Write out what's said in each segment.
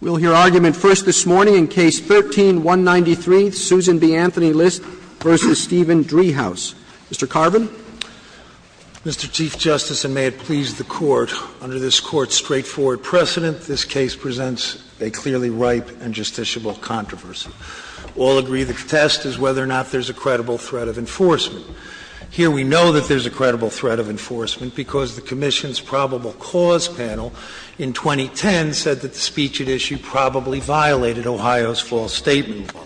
We'll hear argument first this morning in Case 13-193, Susan B. Anthony List v. Stephen Driehaus. Mr. Carvin. Mr. Chief Justice, and may it please the Court, under this Court's straightforward precedent, this case presents a clearly ripe and justiciable controversy. All agree the test is whether or not there's a credible threat of enforcement. Here we know that there's a credible threat of enforcement because the Commission's probable cause panel in 2010 said that the speech at issue probably violated Ohio's false statement law.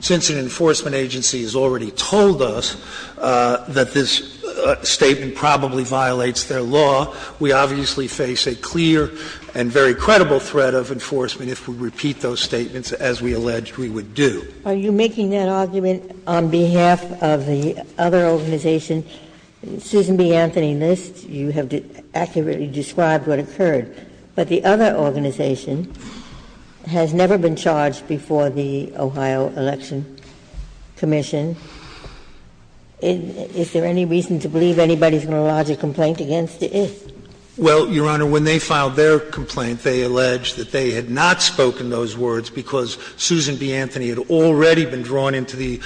Since an enforcement agency has already told us that this statement probably violates their law, we obviously face a clear and very credible threat of enforcement if we repeat those statements as we alleged we would do. Are you making that argument on behalf of the other organization, Susan B. Anthony List? You have accurately described what occurred. But the other organization has never been charged before the Ohio Election Commission. Is there any reason to believe anybody's going to lodge a complaint against it? Well, Your Honor, when they filed their complaint, they alleged that they had not spoken those words because Susan B. Anthony had already been drawn into the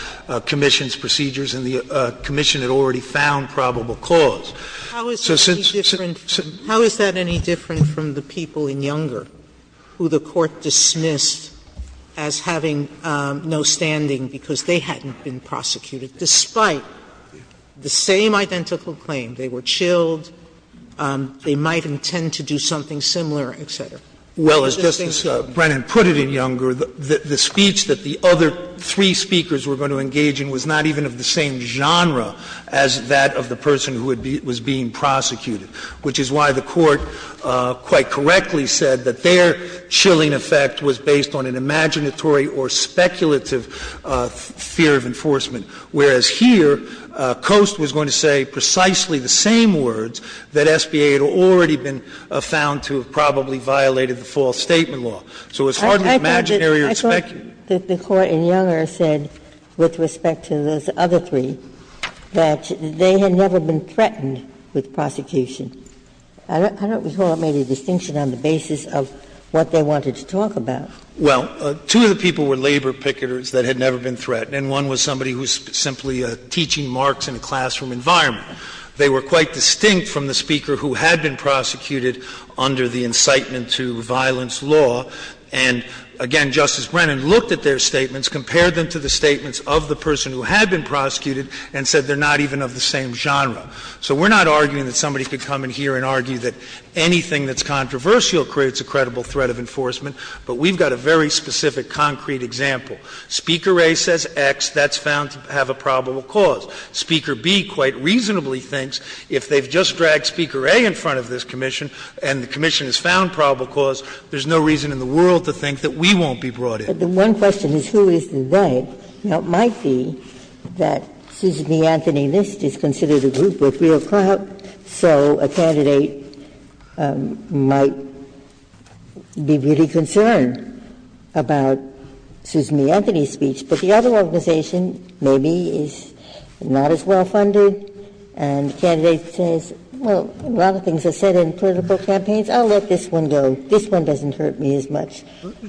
Commission's procedures and the Commission had already found probable cause. So since Susan B. Anthony had already been drawn into the Commission's procedures and the Commission had already found probable cause, how is that any different from the people in Younger who the Court dismissed as having no standing because they hadn't been prosecuted, despite the same identical claim? They were chilled, they might intend to do something similar, et cetera. Well, as Justice Brennan put it in Younger, the speech that the other three speakers were going to engage in was not even of the same genre as that of the person who was being prosecuted, which is why the Court quite correctly said that their chilling effect was based on an imaginatory or speculative fear of enforcement, whereas here, Coast was going to say precisely the same words that SBA had already been found to have probably violated the false statement law. So it's hardly imaginary or speculative. I thought that the Court in Younger said, with respect to those other three, that they had never been threatened with prosecution. I don't recall it made a distinction on the basis of what they wanted to talk about. Well, two of the people were labor picketers that had never been threatened, and one was somebody who was simply teaching Marx in a classroom environment. They were quite distinct from the speaker who had been prosecuted under the incitement to violence law. And again, Justice Brennan looked at their statements, compared them to the statements of the person who had been prosecuted, and said they're not even of the same genre. So we're not arguing that somebody could come in here and argue that anything that's controversial creates a credible threat of enforcement, but we've got a very specific concrete example. Speaker A says X, that's found to have a probable cause. Speaker B quite reasonably thinks if they've just dragged Speaker A in front of this commission and the commission has found probable cause, there's no reason in the world to think that we won't be brought in. Ginsburg. But the one question is who is the threat. Now, it might be that Susan B. Anthony List is considered a group with real clout, so a candidate might be really concerned about Susan B. Anthony's speech. But the other organization maybe is not as well funded, and the candidate says, well, a lot of things are said in political campaigns, I'll let this one go, this one doesn't hurt me as much.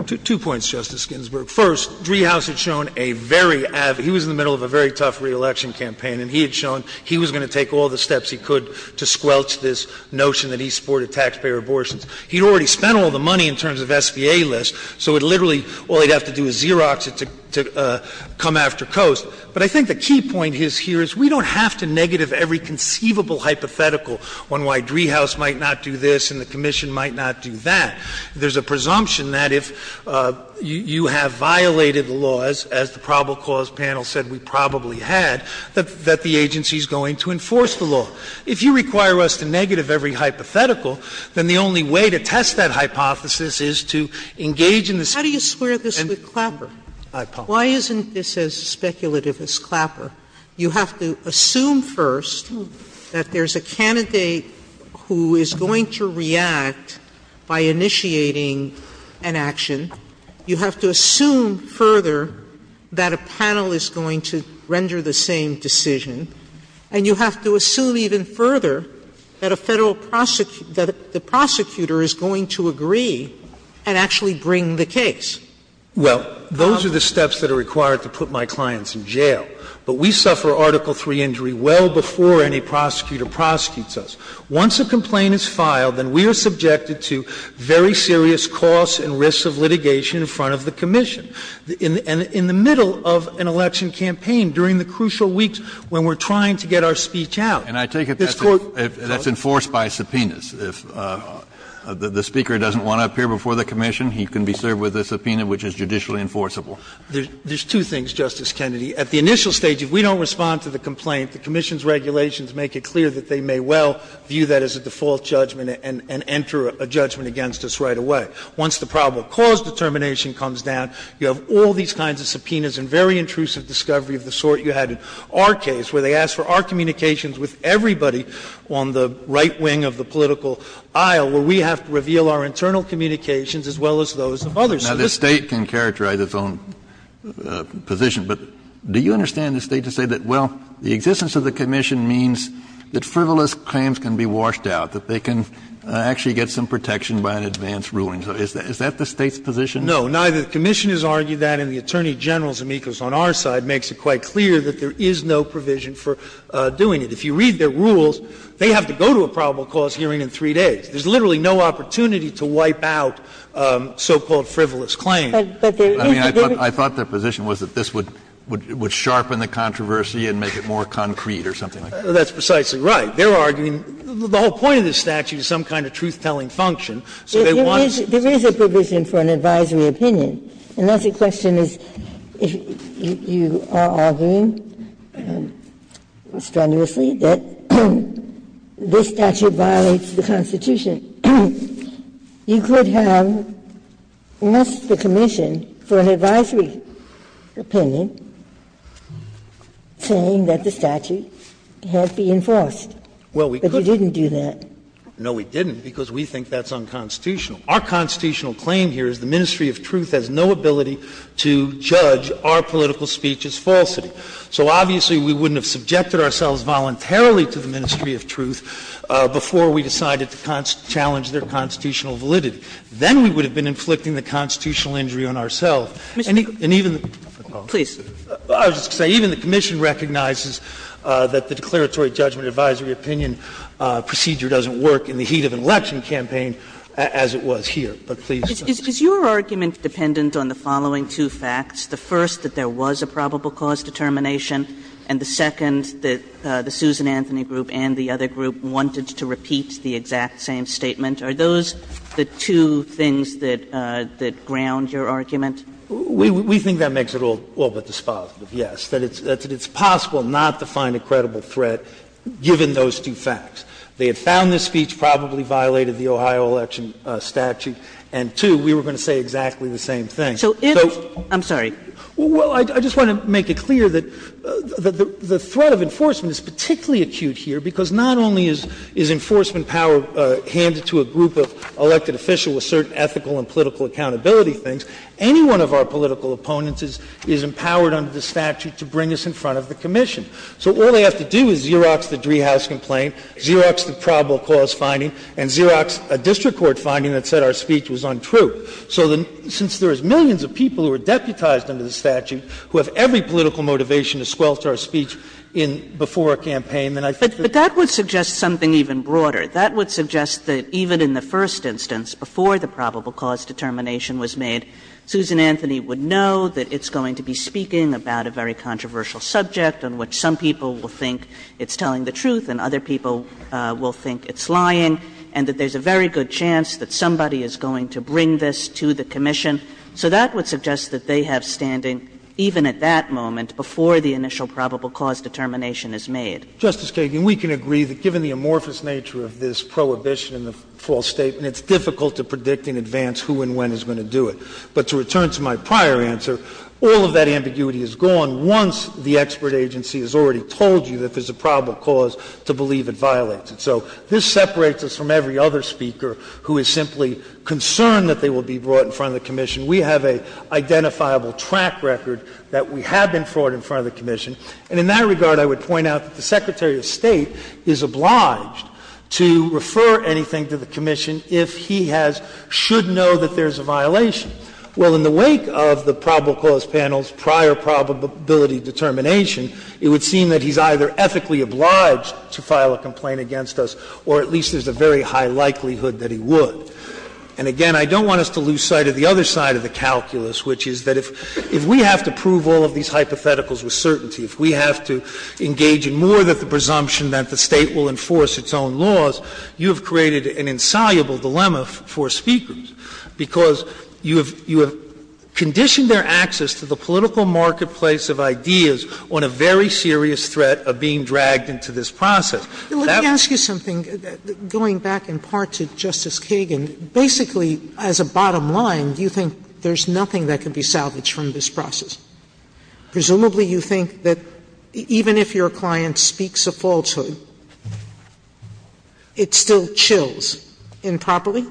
Two points, Justice Ginsburg. First, Driehaus had shown a very avid – he was in the middle of a very tough reelection campaign, and he had shown he was going to take all the steps he could to squelch this notion that he supported taxpayer abortions. He had already spent all the money in terms of SBA List, so it literally – all he'd have to do is Xerox it to come after Coase. But I think the key point here is we don't have to negative every conceivable hypothetical on why Driehaus might not do this and the commission might not do that. There's a presumption that if you have violated the laws, as the probable cause panel said we probably had, that the agency is going to enforce the law. If you require us to negative every hypothetical, then the only way to test that hypothesis is to engage in the speech. Sotomayor, I want to share this with Clapper. Why isn't this as speculative as Clapper? You have to assume first that there's a candidate who is going to react by initiating an action. You have to assume further that a panel is going to render the same decision. And you have to assume even further that a Federal prosecutor – that the prosecutor is going to agree and actually bring the case. Well, those are the steps that are required to put my clients in jail. But we suffer Article III injury well before any prosecutor prosecutes us. Once a complaint is filed, then we are subjected to very serious costs and risks of litigation in front of the commission. And in the middle of an election campaign, during the crucial weeks when we're trying to get our speech out, this Court – The Speaker doesn't want to appear before the commission. He can be served with a subpoena which is judicially enforceable. There's two things, Justice Kennedy. At the initial stage, if we don't respond to the complaint, the commission's regulations make it clear that they may well view that as a default judgment and enter a judgment against us right away. Once the probable cause determination comes down, you have all these kinds of subpoenas and very intrusive discovery of the sort you had in our case, where they asked for our communications with everybody on the right wing of the political aisle, where we have to reveal our internal communications as well as those of others. Kennedy Now, the State can characterize its own position, but do you understand the State to say that, well, the existence of the commission means that frivolous claims can be washed out, that they can actually get some protection by an advanced ruling? Is that the State's position? No, neither. The commission has argued that, and the Attorney General, Zemeckis, on our side, makes it quite clear that there is no provision for doing it. If you read their rules, they have to go to a probable cause hearing in three days. There's literally no opportunity to wipe out so-called frivolous claims. I mean, I thought their position was that this would sharpen the controversy and make it more concrete or something like that. That's precisely right. They're arguing the whole point of this statute is some kind of truth-telling function, so they want to say that. There is a provision for an advisory opinion, and that's a question, as you are arguing so strenuously, that this statute violates the Constitution. You could have asked the commission for an advisory opinion saying that the statute had been enforced, but you didn't do that. No, we didn't, because we think that's unconstitutional. Our constitutional claim here is the ministry of truth has no ability to judge our political speech as falsity. So obviously, we wouldn't have subjected ourselves voluntarily to the ministry of truth before we decided to challenge their constitutional validity. Then we would have been inflicting the constitutional injury on ourselves. And even the commission recognizes that the declaratory judgment advisory opinion procedure doesn't work in the heat of an election campaign as it was here. But please. Kagan. Is your argument dependent on the following two facts, first that there was a probable cause determination and the second, that the Susan Anthony Group and the other group wanted to repeat the exact same statement? Are those the two things that ground your argument? We think that makes it all but dispositive, yes, that it's possible not to find a credible threat, given those two facts. They had found the speech probably violated the Ohio election statute. And, two, we were going to say exactly the same thing. So if – I'm sorry. Well, I just want to make it clear that the threat of enforcement is particularly acute here, because not only is enforcement power handed to a group of elected officials with certain ethical and political accountability things, any one of our political opponents is empowered under the statute to bring us in front of the commission. So all they have to do is Xerox the Driehaus complaint, Xerox the probable cause finding and Xerox a district court finding that said our speech was untrue. So since there are millions of people who are deputized under the statute, who have every political motivation to squelch our speech before a campaign, then I think that's the case. Kagan. But that would suggest something even broader. That would suggest that even in the first instance, before the probable cause determination was made, Susan Anthony would know that it's going to be speaking about a very controversial subject on which some people will think it's telling the truth and other people will think it's lying and that there's a very good chance that somebody is going to bring this to the commission. So that would suggest that they have standing even at that moment before the initial probable cause determination is made. Justice Kagan, we can agree that given the amorphous nature of this prohibition and the false statement, it's difficult to predict in advance who and when is going to do it. But to return to my prior answer, all of that ambiguity is gone once the expert agency has already told you that there's a probable cause to believe it violates it. So this separates us from every other speaker who is simply concerned that they will be brought in front of the commission. We have an identifiable track record that we have been brought in front of the commission. And in that regard, I would point out that the Secretary of State is obliged to refer anything to the commission if he has — should know that there's a violation. Well, in the wake of the probable cause panel's prior probability determination, it would seem that he's either ethically obliged to file a complaint against us, or at least there's a very high likelihood that he would. And again, I don't want us to lose sight of the other side of the calculus, which is that if we have to prove all of these hypotheticals with certainty, if we have to engage in more than the presumption that the State will enforce its own laws, you have created an insoluble dilemma for speakers, because you have created a dilemma where you have conditioned their access to the political marketplace of ideas on a very serious threat of being dragged into this process. Sotomayor, let me ask you something, going back in part to Justice Kagan. Basically, as a bottom line, do you think there's nothing that can be salvaged from this process? Presumably, you think that even if your client speaks a falsehood, it still chills improperly?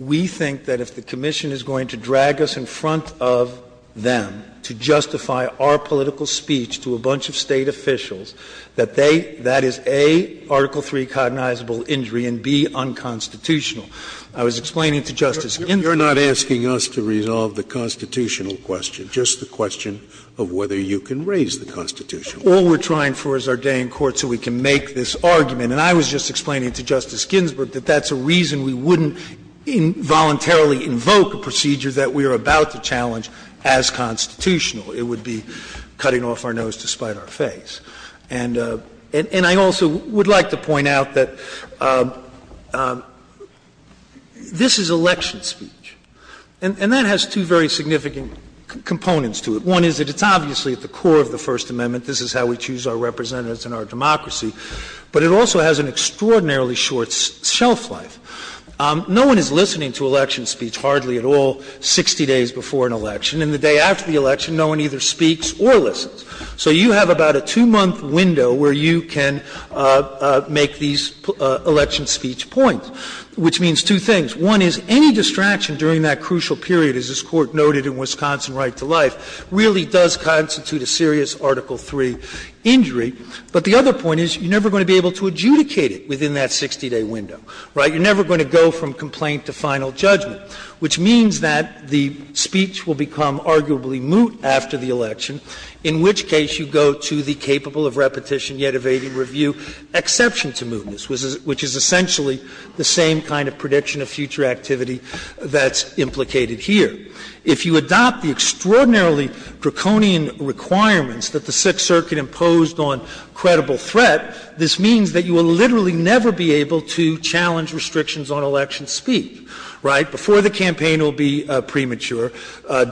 We think that if the commission is going to drag us in front of them to justify our political speech to a bunch of State officials, that they – that is, A, Article III cognizable injury, and, B, unconstitutional. I was explaining to Justice Ginsburg. Scalia, you're not asking us to resolve the constitutional question, just the question of whether you can raise the constitutional question. All we're trying for is our day in court so we can make this argument. And I was just explaining to Justice Ginsburg that that's a reason we wouldn't involuntarily invoke a procedure that we are about to challenge as constitutional. It would be cutting off our nose to spite our face. And I also would like to point out that this is election speech, and that has two very significant components to it. One is that it's obviously at the core of the First Amendment. This is how we choose our representatives in our democracy. But it also has an extraordinarily short shelf life. No one is listening to election speech, hardly at all, 60 days before an election. And the day after the election, no one either speaks or listens. So you have about a two-month window where you can make these election speech points, which means two things. One is any distraction during that crucial period, as this Court noted in Wisconsin Right to Life, really does constitute a serious Article III injury. But the other point is you're never going to be able to adjudicate it within that 60-day window, right? You're never going to go from complaint to final judgment, which means that the speech will become arguably moot after the election, in which case you go to the capable of repetition, yet evading review exception to mootness, which is essentially the same kind of prediction of future activity that's implicated here. If you adopt the extraordinarily draconian requirements that the Sixth Circuit imposed on credible threat, this means that you will literally never be able to challenge restrictions on election speech, right? Before the campaign will be premature.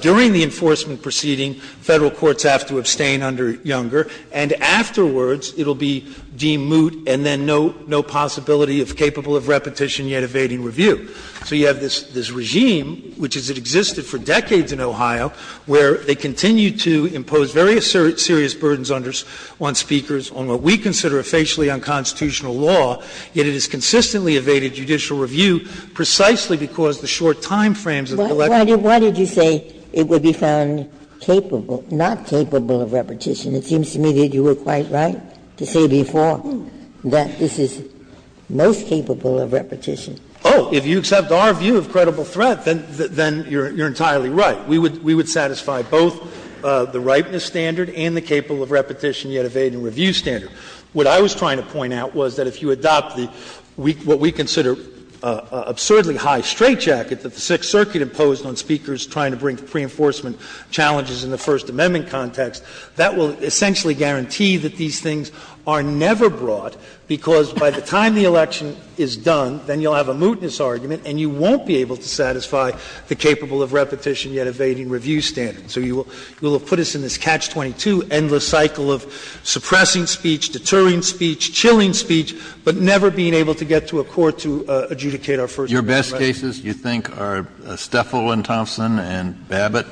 During the enforcement proceeding, Federal courts have to abstain under Younger, and afterwards it will be deemed moot and then no possibility of capable of repetition, yet evading review. So you have this regime, which has existed for decades in Ohio, where they continue to impose very serious burdens on speakers on what we consider a facially unconstitutional law, yet it has consistently evaded judicial review precisely because the short time frames of the election. Ginsburg. Why did you say it would be found capable, not capable of repetition? It seems to me that you were quite right to say before that this is most capable of repetition. Oh, if you accept our view of credible threat, then you're entirely right. We would satisfy both the ripeness standard and the capable of repetition, yet evading review standard. What I was trying to point out was that if you adopt the weak, what we consider absurdly high straightjacket that the Sixth Circuit imposed on speakers trying to bring to pre-enforcement challenges in the First Amendment context, that will essentially guarantee that these things are never brought, because by the time the election is done, then you'll have a mootness argument and you won't be able to satisfy the capable of repetition, yet evading review standard. So you will have put us in this Catch-22 endless cycle of suppressing speech, deterring speech, chilling speech, but never being able to get to a court to adjudicate our First Amendment rights. Kennedy, your best cases, you think, are Steffel and Thompson and Babbitt?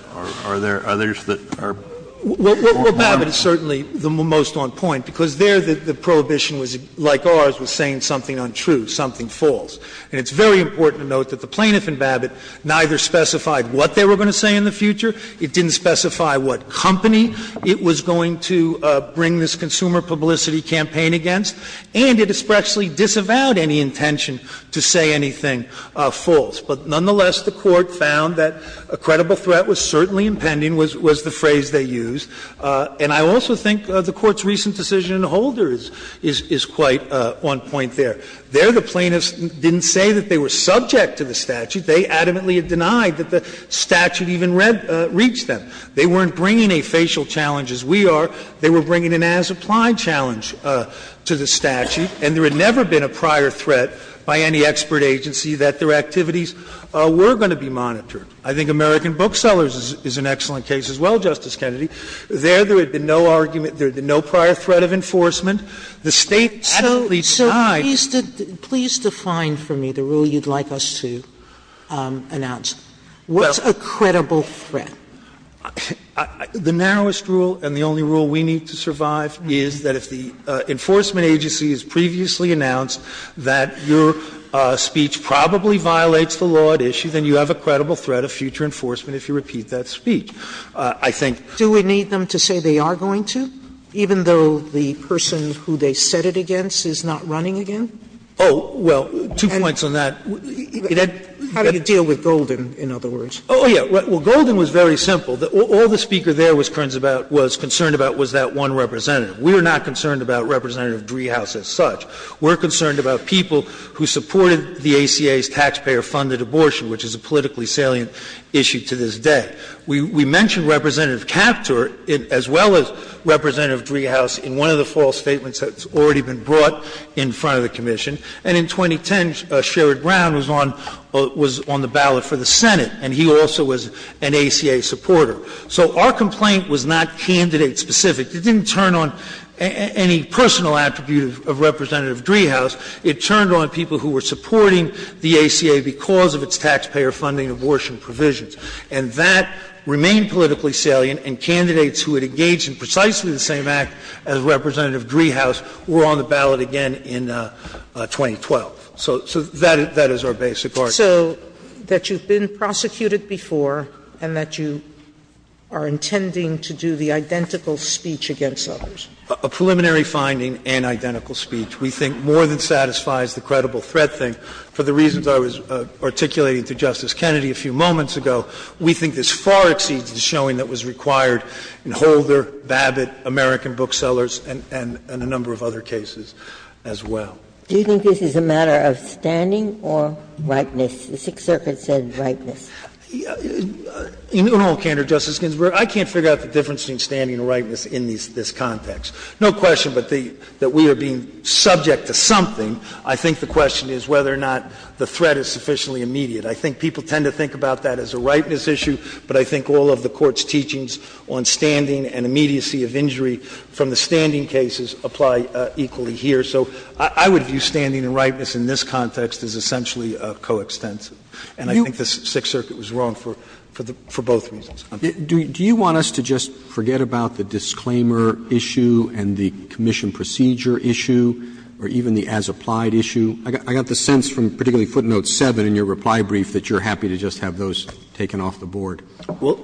Are there others that are more harmful? Well, Babbitt is certainly the most on point, because there the prohibition was, like ours, was saying something untrue, something false. And it's very important to note that the plaintiff in Babbitt neither specified what they were going to say in the future, it didn't specify what company it was going to bring this consumer publicity campaign against, and it especially disavowed any intention to say anything false. But nonetheless, the Court found that a credible threat was certainly impending, was the phrase they used. And I also think the Court's recent decision in Holder is quite on point there. There the plaintiffs didn't say that they were subject to the statute. They adamantly denied that the statute even read them, reached them. They weren't bringing a facial challenge, as we are. They were bringing an as-applied challenge to the statute. And there had never been a prior threat by any expert agency that their activities were going to be monitored. I think American Booksellers is an excellent case as well, Justice Kennedy. There, there had been no argument, there had been no prior threat of enforcement. The State adamantly denied. Sotomayor, so please define for me the rule you'd like us to announce. What's a credible threat? The narrowest rule and the only rule we need to survive is that if the enforcement agency has previously announced that your speech probably violates the law at issue, then you have a credible threat of future enforcement if you repeat that speech. I think. Do we need them to say they are going to, even though the person who they said it against is not running again? Oh, well, two points on that. How do you deal with Golden, in other words? Oh, yeah. Well, Golden was very simple. All the speaker there was concerned about was that one representative. We were not concerned about Representative Driehaus as such. We're concerned about people who supported the ACA's taxpayer-funded abortion, which is a politically salient issue to this day. We mentioned Representative Kaptur as well as Representative Driehaus in one of the first false statements that's already been brought in front of the commission. And in 2010, Sherrod Brown was on the ballot for the Senate, and he also was an ACA supporter. So our complaint was not candidate-specific. It didn't turn on any personal attribute of Representative Driehaus. It turned on people who were supporting the ACA because of its taxpayer-funding abortion provisions. And that remained politically salient, and candidates who had engaged in precisely the same act as Representative Driehaus were on the ballot again in 2012. So that is our basic argument. So that you've been prosecuted before and that you are intending to do the identical speech against others. A preliminary finding and identical speech, we think, more than satisfies the credible threat thing. For the reasons I was articulating to Justice Kennedy a few moments ago, we think this far exceeds the showing that was required in Holder, Babbitt, American Booksellers, and a number of other cases as well. Do you think this is a matter of standing or ripeness? The Sixth Circuit said ripeness. In all candor, Justice Ginsburg, I can't figure out the difference between standing and ripeness in this context. No question that we are being subject to something. I think the question is whether or not the threat is sufficiently immediate. I think people tend to think about that as a ripeness issue, but I think all of the Court's teachings on standing and immediacy of injury from the standing cases apply equally here. So I would view standing and ripeness in this context as essentially coextensive. And I think the Sixth Circuit was wrong for both reasons. Roberts. Do you want us to just forget about the disclaimer issue and the commission procedure issue or even the as-applied issue? I got the sense from particularly footnote 7 in your reply brief that you're happy to just have those taken off the board.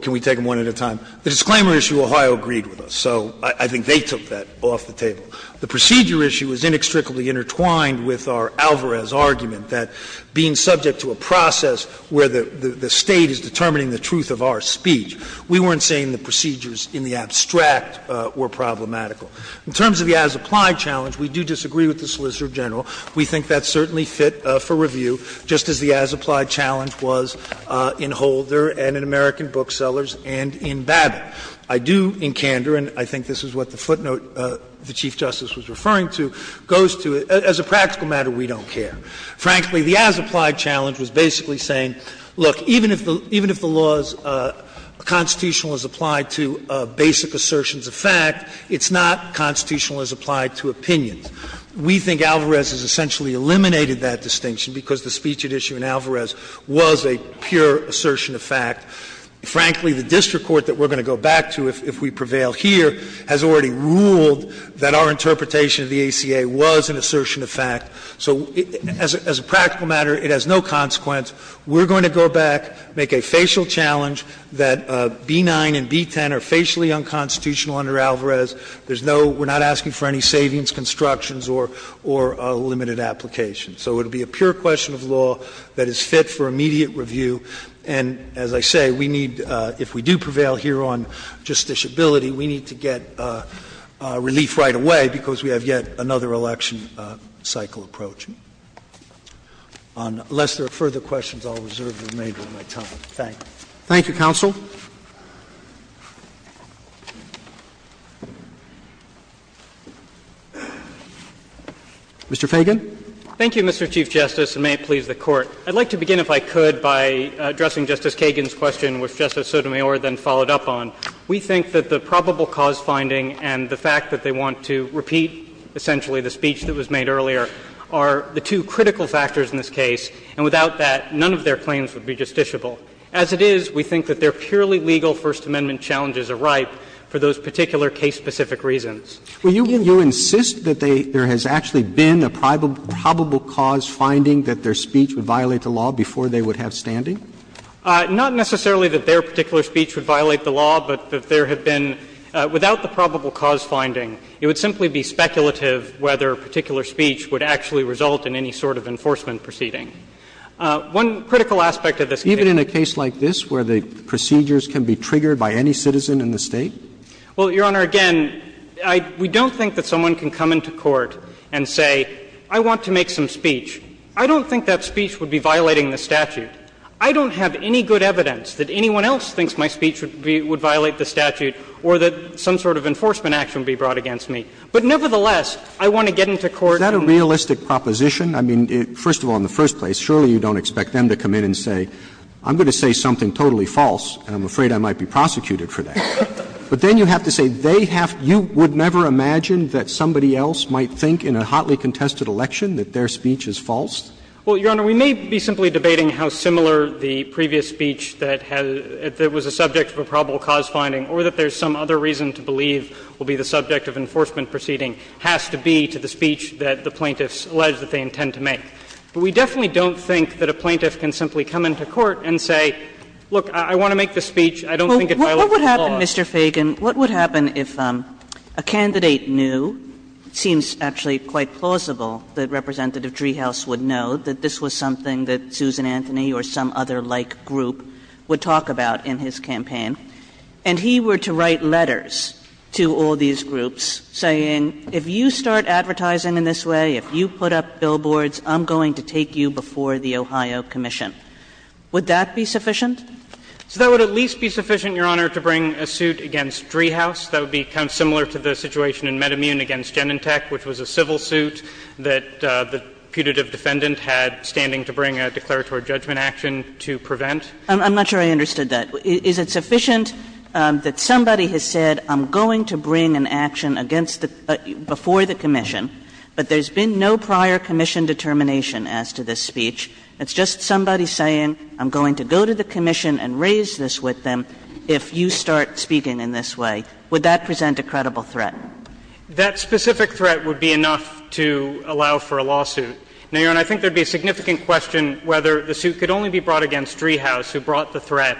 Can we take them one at a time? The disclaimer issue, Ohio agreed with us, so I think they took that off the table. The procedure issue is inextricably intertwined with our Alvarez argument that being subject to a process where the State is determining the truth of our speech, we weren't saying the procedures in the abstract were problematical. In terms of the as-applied challenge, we do disagree with the Solicitor General. We think that's certainly fit for review, just as the as-applied challenge was in Holder and in American Booksellers and in Babbitt. I do, in candor, and I think this is what the footnote the Chief Justice was referring to, goes to, as a practical matter, we don't care. Frankly, the as-applied challenge was basically saying, look, even if the law is constitutional as applied to basic assertions of fact, it's not constitutional as applied to opinions. We think Alvarez has essentially eliminated that distinction because the speech at issue in Alvarez was a pure assertion of fact. Frankly, the district court that we're going to go back to if we prevail here has already ruled that our interpretation of the ACA was an assertion of fact. So as a practical matter, it has no consequence. We're going to go back, make a facial challenge that B-9 and B-10 are facially unconstitutional under Alvarez. There's no — we're not asking for any savings, constructions, or a limited application. So it would be a pure question of law that is fit for immediate review, and as I say, we need — if we do prevail here on justiciability, we need to get relief right away because we have yet another election cycle approaching. Unless there are further questions, I'll reserve the remainder of my time. Thank you. Roberts. Thank you, counsel. Mr. Feigin. Thank you, Mr. Chief Justice, and may it please the Court. I'd like to begin, if I could, by addressing Justice Kagan's question, which Justice Sotomayor then followed up on. We think that the probable cause finding and the fact that they want to repeat essentially the speech that was made earlier are the two critical factors in this case, and without that, none of their claims would be justiciable. As it is, we think that their purely legal First Amendment challenges are ripe for those particular case-specific reasons. Roberts. Well, you insist that they — there has actually been a probable cause finding that their speech would violate the law before they would have standing? Not necessarily that their particular speech would violate the law, but that there have been — without the probable cause finding, it would simply be speculative whether a particular speech would actually result in any sort of enforcement One critical aspect of this case is that it's a case that's not justifiable without the probable cause finding. It's a case that's not justifiable without the probable cause finding. It's a case like this where the procedures can be triggered by any citizen in the State? Well, Your Honor, again, I — we don't think that someone can come into court and say, I want to make some speech. I don't think that speech would be violating the statute. I don't have any good evidence that anyone else thinks my speech would be — would violate the statute or that some sort of enforcement action would be brought against me. But nevertheless, I want to get into court and — Is that a realistic proposition? I mean, first of all, in the first place, surely you don't expect them to come in and say, I'm going to say something totally false, and I'm afraid I might be prosecuted for that. But then you have to say they have — you would never imagine that somebody else might think in a hotly contested election that their speech is false? Well, Your Honor, we may be simply debating how similar the previous speech that has — that was the subject of a probable cause finding or that there's some other reason to believe will be the subject of enforcement proceeding has to be to the speech that the plaintiffs allege that they intend to make. But we definitely don't think that a plaintiff can simply come into court and say, look, I want to make this speech, I don't think it violates the law. What would happen, Mr. Fagan, what would happen if a candidate knew, it seems actually quite plausible that Representative Driehaus would know, that this was something that Susan Anthony or some other like group would talk about in his campaign, and he were to write letters to all these groups saying, if you start advertising in this way, if you put up billboards, I'm going to take you before the Ohio Commission. Would that be sufficient? So that would at least be sufficient, Your Honor, to bring a suit against Driehaus that would be kind of similar to the situation in MedImmune against Genentech, which was a civil suit that the putative defendant had standing to bring a declaratory judgment action to prevent. I'm not sure I understood that. Is it sufficient that somebody has said, I'm going to bring an action against you before the commission, but there's been no prior commission determination as to this speech, it's just somebody saying, I'm going to go to the commission and raise this with them if you start speaking in this way, would that present a credible threat? That specific threat would be enough to allow for a lawsuit. Now, Your Honor, I think there would be a significant question whether the suit could only be brought against Driehaus, who brought the threat,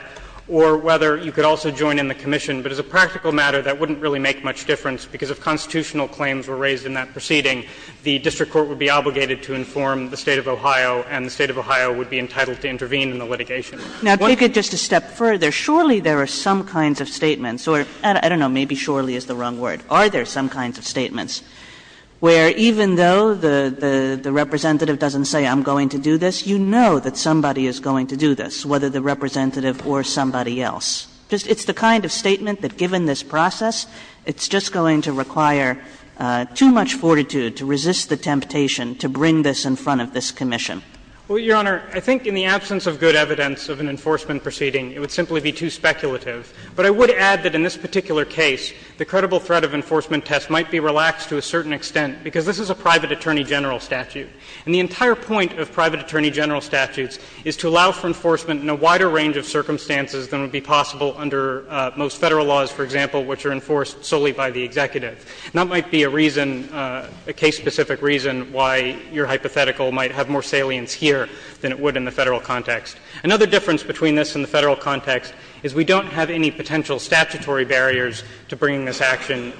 or whether you could also join in the commission. But as a practical matter, that wouldn't really make much difference, because if constitutional claims were raised in that proceeding, the district court would be obligated to inform the State of Ohio, and the State of Ohio would be entitled to intervene in the litigation. Kagan. Kagan. Kagan. Now take it just a step further. Surely there are some kinds of statements or, I don't know, maybe surely is the wrong word. Are there some kinds of statements where even though the representative doesn't say, I'm going to do this, you know that somebody is going to do this, whether the representative or somebody else. It's the kind of statement that given this process, it's just going to require too much fortitude to resist the temptation to bring this in front of this commission. Well, Your Honor, I think in the absence of good evidence of an enforcement proceeding, it would simply be too speculative. But I would add that in this particular case, the credible threat of enforcement test might be relaxed to a certain extent, because this is a private attorney general statute. And I would add that there is no wider range of circumstances than would be possible under most Federal laws, for example, which are enforced solely by the executive. And that might be a reason, a case-specific reason why your hypothetical might have more salience here than it would in the Federal context. Another difference between this and the Federal context is we don't have any potential statutory barriers to bringing this action.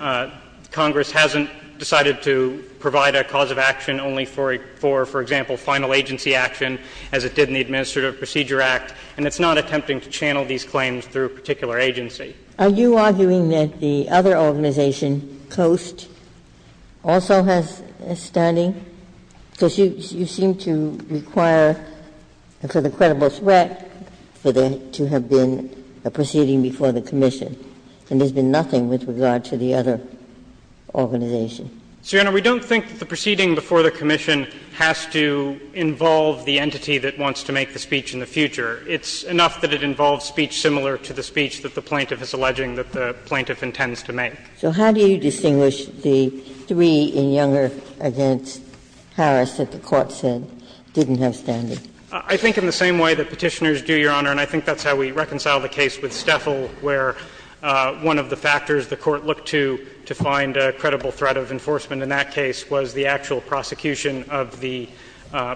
Congress hasn't decided to provide a cause of action only for, for example, final agency action as it did in the Administrative Procedure Act, and it's not attempting to channel these claims through a particular agency. Are you arguing that the other organization, COAST, also has a standing? Because you seem to require for the credible threat for there to have been a proceeding before the commission, and there's been nothing with regard to the other organization. So, Your Honor, we don't think the proceeding before the commission has to involve the entity that wants to make the speech in the future. It's enough that it involves speech similar to the speech that the plaintiff is alleging that the plaintiff intends to make. So how do you distinguish the three in Younger v. Harris that the Court said didn't have standing? I think in the same way that Petitioners do, Your Honor, and I think that's how we reconciled the case with Stefel, where one of the factors the Court looked to to find a credible threat of enforcement in that case was the actual prosecution of the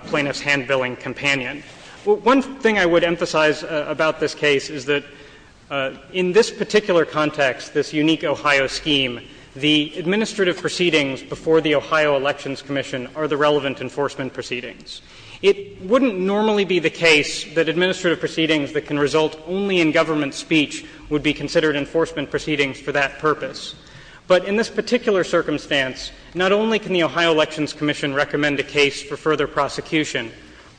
plaintiff's hand-billing companion. One thing I would emphasize about this case is that in this particular context, this unique Ohio scheme, the administrative proceedings before the Ohio Elections Commission are the relevant enforcement proceedings. It wouldn't normally be the case that administrative proceedings that can result only in government speech would be considered enforcement proceedings for that purpose. But in this particular circumstance, not only can the Ohio Elections Commission recommend a case for further prosecution,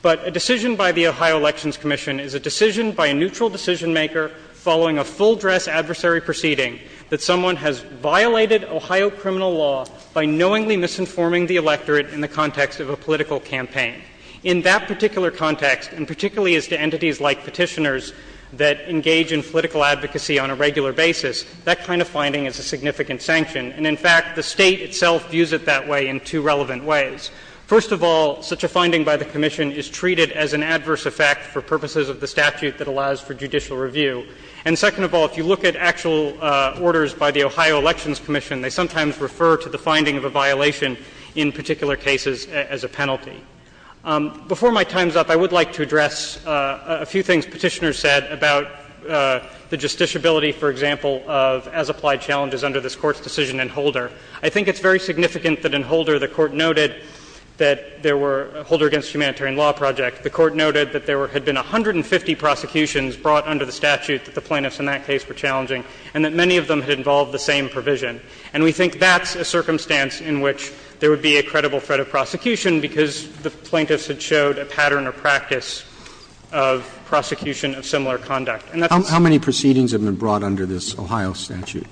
but a decision by the Ohio Elections Commission is a decision by a neutral decisionmaker following a full-dress adversary proceeding that someone has violated Ohio criminal law by knowingly misinforming the electorate in the context of a political campaign. In that particular context, and particularly as to entities like Petitioners that engage in political advocacy on a regular basis, that kind of finding is a significant sanction. And in fact, the State itself views it that way in two relevant ways. First of all, such a finding by the Commission is treated as an adverse effect for purposes of the statute that allows for judicial review. And second of all, if you look at actual orders by the Ohio Elections Commission, they sometimes refer to the finding of a violation in particular cases as a penalty. Before my time's up, I would like to address a few things Petitioners said about the justiciability, for example, of as-applied challenges under this Court's decision in Holder. I think it's very significant that in Holder the Court noted that there were — Holder Against Humanitarian Law Project, the Court noted that there had been 150 prosecutions brought under the statute that the plaintiffs in that case were challenging, and that many of them had involved the same provision. And we think that's a circumstance in which there would be a credible threat of prosecution because the plaintiffs had showed a pattern or practice of prosecution of similar conduct. How many proceedings have been brought under this Ohio statute?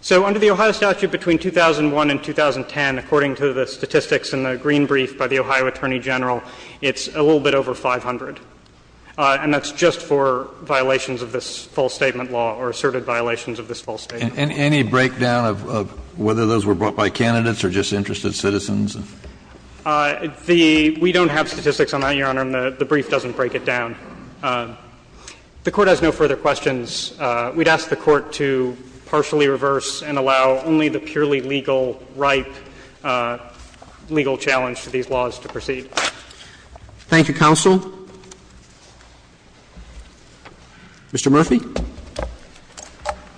So under the Ohio statute, between 2001 and 2010, according to the statistics in the green brief by the Ohio Attorney General, it's a little bit over 500. And that's just for violations of this false statement law or asserted violations of this false statement law. And any breakdown of whether those were brought by candidates or just interested citizens? The — we don't have statistics on that, Your Honor, and the brief doesn't break it down. The Court has no further questions. We'd ask the Court to partially reverse and allow only the purely legal, ripe legal challenge to these laws to proceed. Roberts. Thank you, counsel. Mr. Murphy.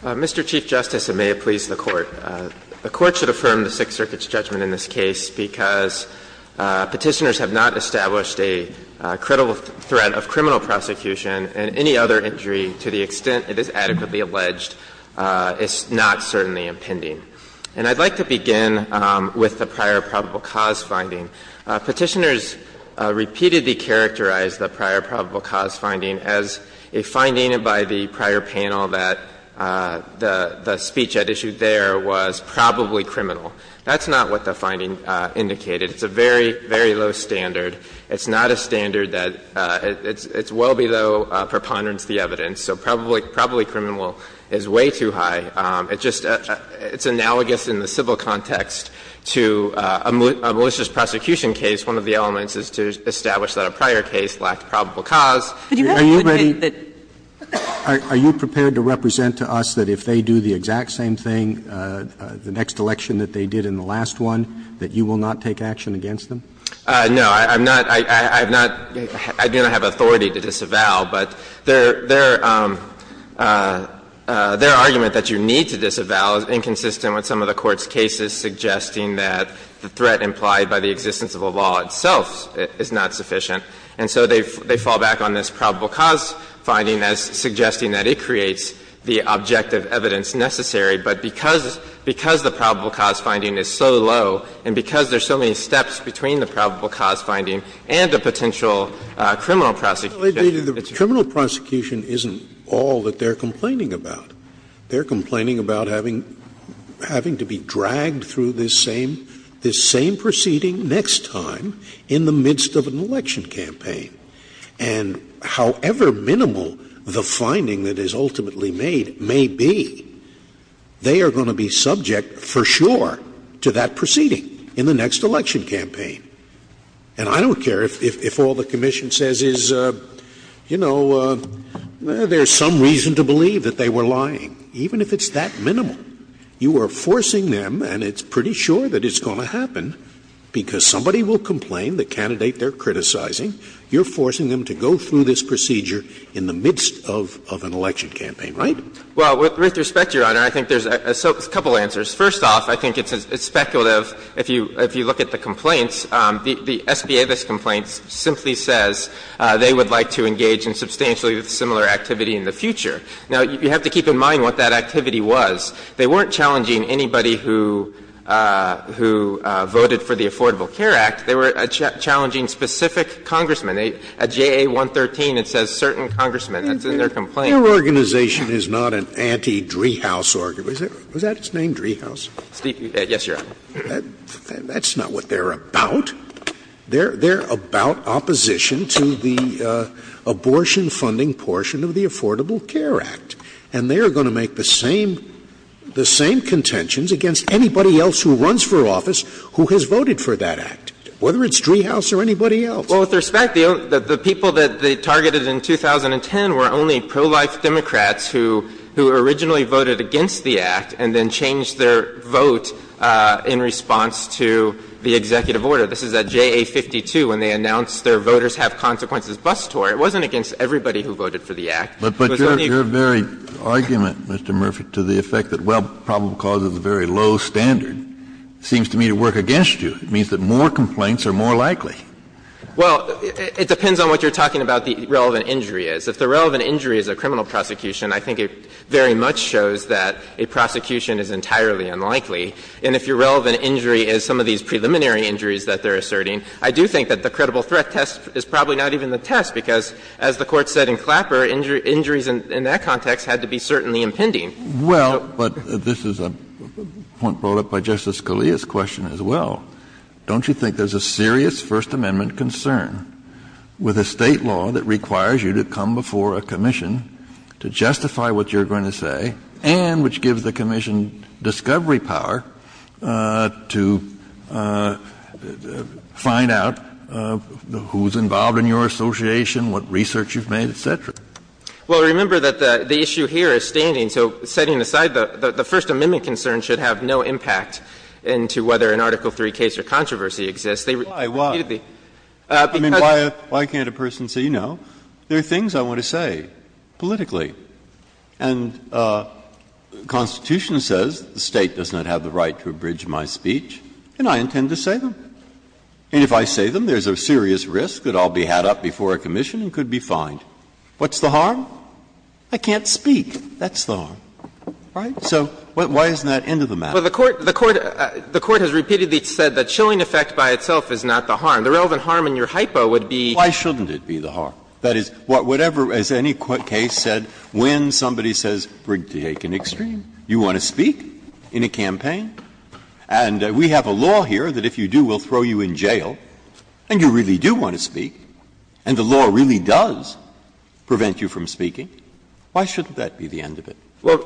Mr. Chief Justice, and may it please the Court. The Court should affirm the Sixth Circuit's judgment in this case because Petitioners have not established a credible threat of criminal prosecution, and any other injury to the extent it is adequately alleged is not certainly impending. And I'd like to begin with the prior probable cause finding. Petitioners repeatedly characterized the prior probable cause finding as a finding by the prior panel that the speech at issue there was probably criminal. That's not what the finding indicated. It's a very, very low standard. It's not a standard that — it's well below preponderance of the evidence. So probably criminal is way too high. It's analogous in the civil context to a malicious prosecution case. One of the elements is to establish that a prior case lacked probable cause. Are you prepared to represent to us that if they do the exact same thing, the next election that they did in the last one, that you will not take action against them? No. I'm not — I have not — I do not have authority to disavow, but their — their argument that you need to disavow is inconsistent with some of the Court's cases suggesting that the threat implied by the existence of a law itself is not sufficient. And so they fall back on this probable cause finding as suggesting that it creates the objective evidence necessary. But because — because the probable cause finding is so low, and because there are so many steps between the probable cause finding and a potential criminal prosecution, it's a— Scalia, the criminal prosecution isn't all that they're complaining about. They're complaining about having — having to be dragged through this same — this same proceeding next time in the midst of an election campaign. And however minimal the finding that is ultimately made may be, they are going to be subject for sure to that proceeding in the next election campaign. And I don't care if — if all the commission says is, you know, there's some reason to believe that they were lying. Even if it's that minimal, you are forcing them, and it's pretty sure that it's going to happen, because somebody will complain, the candidate they're criticizing, you're forcing them to go through this procedure in the midst of an election campaign, right? Well, with respect, Your Honor, I think there's a couple answers. First off, I think it's speculative if you look at the complaints. The SBA, this complaint, simply says they would like to engage in substantially similar activity in the future. Now, you have to keep in mind what that activity was. They weren't challenging anybody who voted for the Affordable Care Act. They were challenging specific congressmen. At JA113, it says certain congressmen. That's in their complaint. Scalia, your organization is not an anti-Dreehouse organization. Was that its name, Dreehouse? Yes, Your Honor. That's not what they're about. They're about opposition to the abortion funding portion of the Affordable Care Act. And they are going to make the same — the same contentions against anybody else who runs for office who has voted for that act. Whether it's Dreehouse or anybody else. Well, with respect, the people that they targeted in 2010 were only pro-life Democrats who originally voted against the Act and then changed their vote in response to the executive order. This is at JA52, when they announced their voters have consequences bus tour. It wasn't against everybody who voted for the Act. But your very argument, Mr. Murphy, to the effect that, well, probable cause is a very low standard, seems to me to work against you. It means that more complaints are more likely. Well, it depends on what you're talking about the relevant injury is. If the relevant injury is a criminal prosecution, I think it very much shows that a prosecution is entirely unlikely. And if your relevant injury is some of these preliminary injuries that they're asserting, I do think that the credible threat test is probably not even the test, because as the Court said in Clapper, injuries in that context had to be certainly impending. Well, but this is a point brought up by Justice Scalia's question as well. Don't you think there's a serious First Amendment concern with a State law that requires you to come before a commission to justify what you're going to say and which gives the commission discovery power to find out who's involved in your association, what research you've made, et cetera? Well, remember that the issue here is standing. So setting aside the First Amendment concern should have no impact into whether an Article III case or controversy exists. They repeatedly. Breyer. I mean, why can't a person say, you know, there are things I want to say politically. And the Constitution says the State does not have the right to abridge my speech, and I intend to say them. And if I say them, there's a serious risk that I'll be had up before a commission and could be fined. What's the harm? I can't speak. That's the harm. Right? So why isn't that end of the matter? Well, the Court has repeatedly said the chilling effect by itself is not the harm. The relevant harm in your hypo would be. Why shouldn't it be the harm? That is, whatever, as any court case said, when somebody says, we're taking extreme, you want to speak in a campaign? And we have a law here that if you do, we'll throw you in jail. And you really do want to speak, and the law really does prevent you from speaking. Why shouldn't that be the end of it? Well,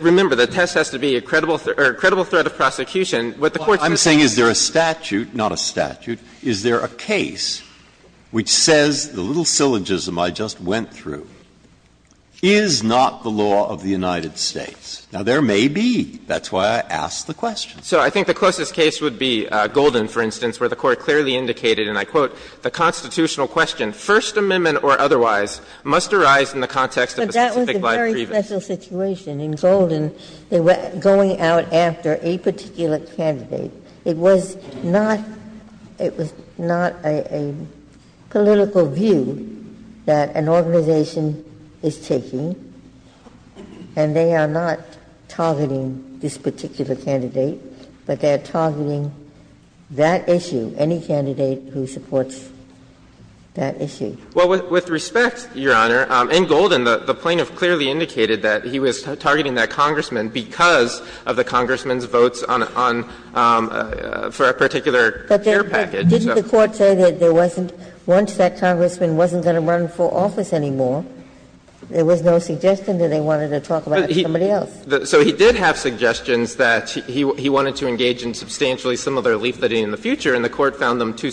remember, the test has to be a credible threat of prosecution. What the Court's saying is there is a statute, not a statute, is there a case which says the little syllogism I just went through is not the law of the United States? Now, there may be. That's why I asked the question. So I think the closest case would be Golden, for instance, where the Court clearly indicated, and I quote, The Constitutional question, First Amendment or otherwise, must arise in the context of a specific life previous. Ginsburg. But that was a very special situation. In Golden, they were going out after a particular candidate. It was not — it was not a political view that an organization is taking, and they are not targeting this particular candidate, but they are targeting that issue, any candidate who supports that issue. Well, with respect, Your Honor, in Golden, the plaintiff clearly indicated that he was targeting that congressman because of the congressman's votes on — for a particular care package. But didn't the Court say that there wasn't — once that congressman wasn't going to run for office anymore, there was no suggestion that they wanted to talk about somebody else? So he did have suggestions that he wanted to engage in substantially similar activity in the future, but they didn't identify any other candidates, just like they any candidates in the Rene decision, which was the one that the Court found to be too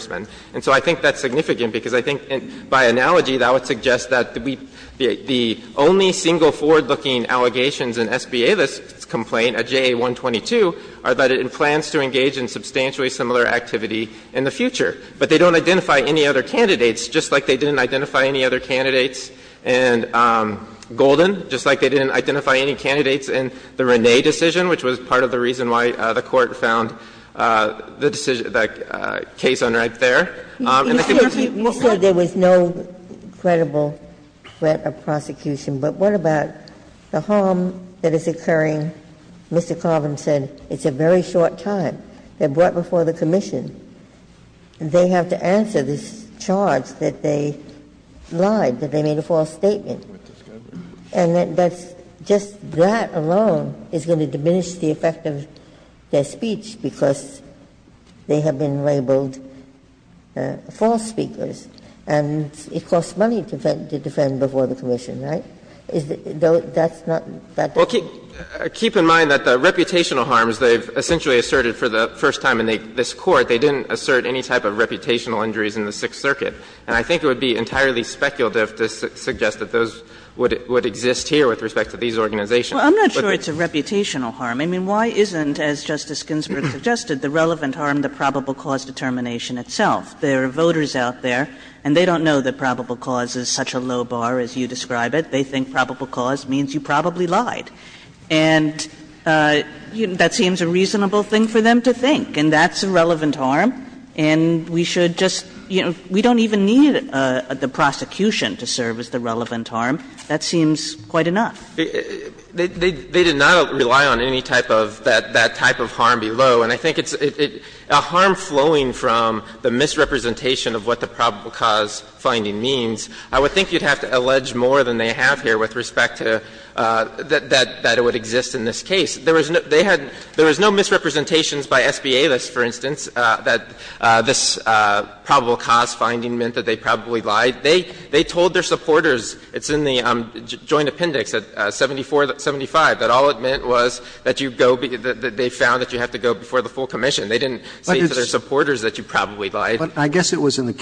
speculative. And so I think that's significant, because I think, by analogy, that would suggest that we — the only single forward-looking allegations in SBA's complaint, a JA-122, are that it plans to engage in substantially similar activity in the future. The other thing that the Court found was that there was no credible threat of prosecution, which was part of the reason why the Court found the case on right there. And the committee — You said there was no credible threat of prosecution, but what about the harm that is occurring — Mr. Carvin said it's a very short time, they're brought before the commission, and they have to answer this charge that they lied, that they made a false statement. And that's — just that alone is going to diminish the effect of their speech, because they have been labeled false speakers, and it costs money to defend before the commission, right? Is it — that's not — Well, keep in mind that the reputational harms they've essentially asserted for the first time in this Court, they didn't assert any type of reputational injuries in the Sixth Circuit, and I think it would be entirely speculative to suggest that those would exist here with respect to these organizations. Well, I'm not sure it's a reputational harm. I mean, why isn't, as Justice Ginsburg suggested, the relevant harm the probable cause determination itself? There are voters out there, and they don't know that probable cause is such a low bar as you describe it. They think probable cause means you probably lied. And that seems a reasonable thing for them to think, and that's a relevant harm. And we should just — you know, we don't even need the prosecution to serve as the relevant harm. That seems quite enough. They did not rely on any type of that type of harm below. And I think it's — a harm flowing from the misrepresentation of what the probable cause finding means, I would think you'd have to allege more than they have here with respect to that it would exist in this case. There was no — they had — there was no misrepresentations by SBA lists, for instance, that this probable cause finding meant that they probably lied. They told their supporters, it's in the Joint Appendix at 74, 75, that all it meant was that you go — that they found that you have to go before the full commission. They didn't say to their supporters that you probably lied. Roberts. I guess it was in the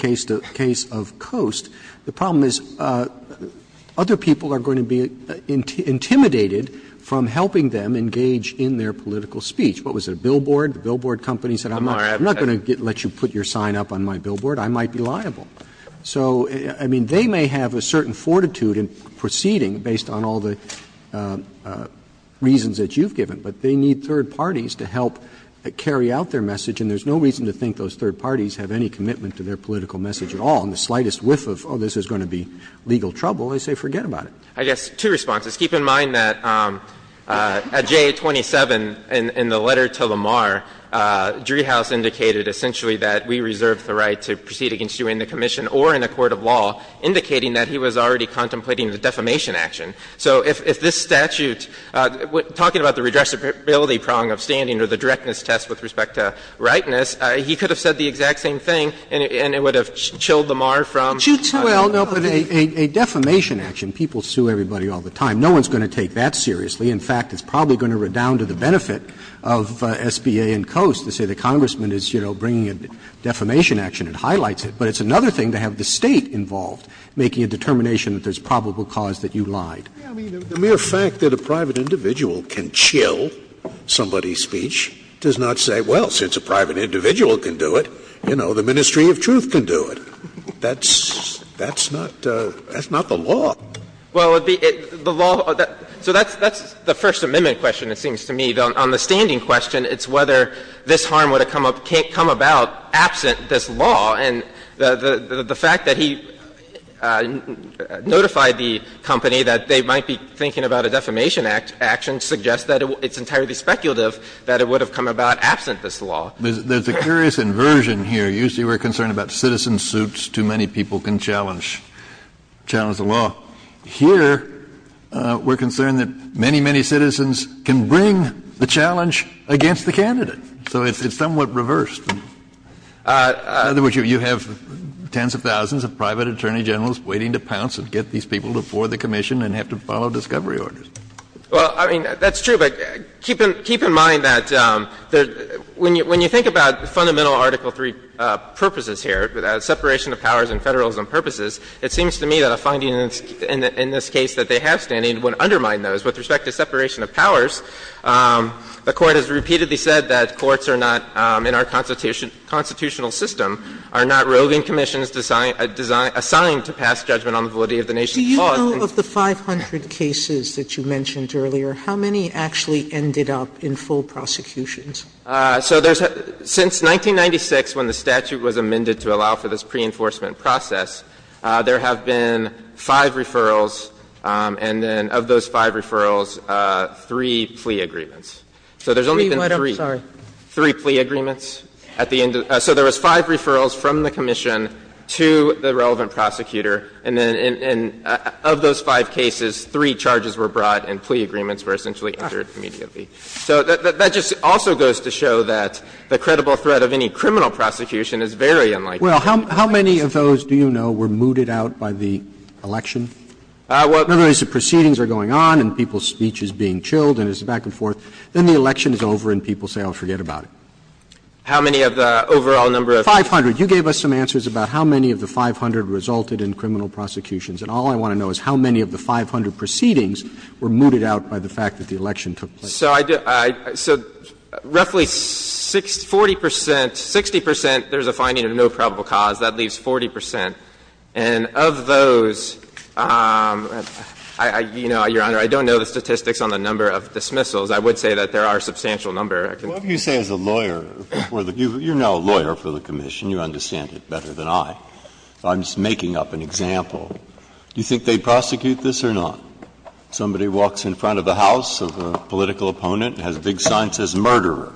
case of Coast, the problem is other people are going to be intimidated from helping them engage in their political speech. What was it, a billboard? The billboard company said, I'm not going to let you put your sign up on my billboard. I might be liable. So, I mean, they may have a certain fortitude in proceeding based on all the reasons that you've given, but they need third parties to help carry out their message. And there's no reason to think those third parties have any commitment to their political message at all. And the slightest whiff of, oh, this is going to be legal trouble, they say, forget about it. I guess, two responses. Keep in mind that at J27 in the letter to Lamar, Driehaus indicated essentially that we reserve the right to proceed against you in the commission or in a court of law, indicating that he was already contemplating the defamation action. So if this statute, talking about the redressability prong of standing or the directness of the test with respect to rightness, he could have said the exact same thing and it would have chilled Lamar from the bottom of his heart. Roberts. Sotomayor, a defamation action, people sue everybody all the time. No one's going to take that seriously. In fact, it's probably going to redound to the benefit of SBA and COAS to say the Congressman is, you know, bringing a defamation action and highlights it. But it's another thing to have the State involved, making a determination that there's probable cause that you lied. Scalia, I mean, the mere fact that a private individual can chill somebody's speech does not say, well, since a private individual can do it, you know, the Ministry of Truth can do it. That's not the law. Well, the law of that – so that's the First Amendment question, it seems to me. On the standing question, it's whether this harm would have come about absent this law. And the fact that he notified the company that they might be thinking about a defamation action suggests that it's entirely speculative that it would have come about absent this law. There's a curious inversion here. Usually we're concerned about citizen suits. Too many people can challenge the law. Here, we're concerned that many, many citizens can bring the challenge against the candidate. So it's somewhat reversed. In other words, you have tens of thousands of private attorney generals waiting to pounce and get these people to board the commission and have to follow discovery orders. Well, I mean, that's true, but keep in mind that when you think about the fundamental Article III purposes here, separation of powers and Federalism purposes, it seems to me that a finding in this case that they have standing would undermine those. With respect to separation of powers, the Court has repeatedly said that courts are not, in our constitutional system, are not roving commissions assigned to pass judgment on the validity of the nation's cause. Sotomayor, do you know, of the 500 cases that you mentioned earlier, how many actually ended up in full prosecutions? So there's a – since 1996, when the statute was amended to allow for this pre-enforcement process, there have been five referrals, and then of those five referrals, three plea agreements. So there's only been three. Three what, I'm sorry. Three plea agreements at the end of the – so there was five referrals from the commission to the relevant prosecutor, and then of those five cases, three charges were brought and plea agreements were essentially entered immediately. So that just also goes to show that the credible threat of any criminal prosecution is very unlikely. Well, how many of those, do you know, were mooted out by the election? Well, there's the proceedings are going on and people's speech is being chilled and it's back and forth. Then the election is over and people say, oh, forget about it. How many of the overall number of? 500. You gave us some answers about how many of the 500 resulted in criminal prosecutions. And all I want to know is how many of the 500 proceedings were mooted out by the fact that the election took place. So I do – so roughly 40 percent, 60 percent, there's a finding of no probable cause. That leaves 40 percent. And of those, you know, Your Honor, I don't know the statistics on the number of dismissals. I would say that there are a substantial number. Breyer, what would you say as a lawyer? You're now a lawyer for the commission. You understand it better than I. I'm just making up an example. Do you think they'd prosecute this or not? Somebody walks in front of the house of a political opponent and has a big sign that says murderer.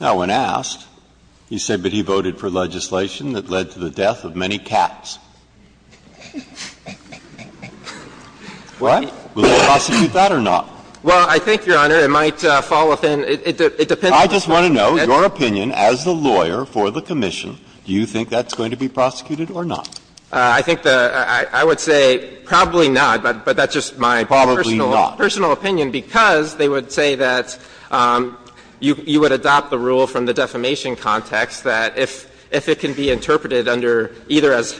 Now, when asked, you say, but he voted for legislation that led to the death of many cats. What? Would they prosecute that or not? Well, I think, Your Honor, it might fall within – it depends on the person. I just want to know your opinion as the lawyer for the commission. Do you think that's going to be prosecuted or not? I think the – I would say probably not, but that's just my personal – Probably not. Personal opinion, because they would say that you would adopt the rule from the defamation context that if it can be interpreted under either as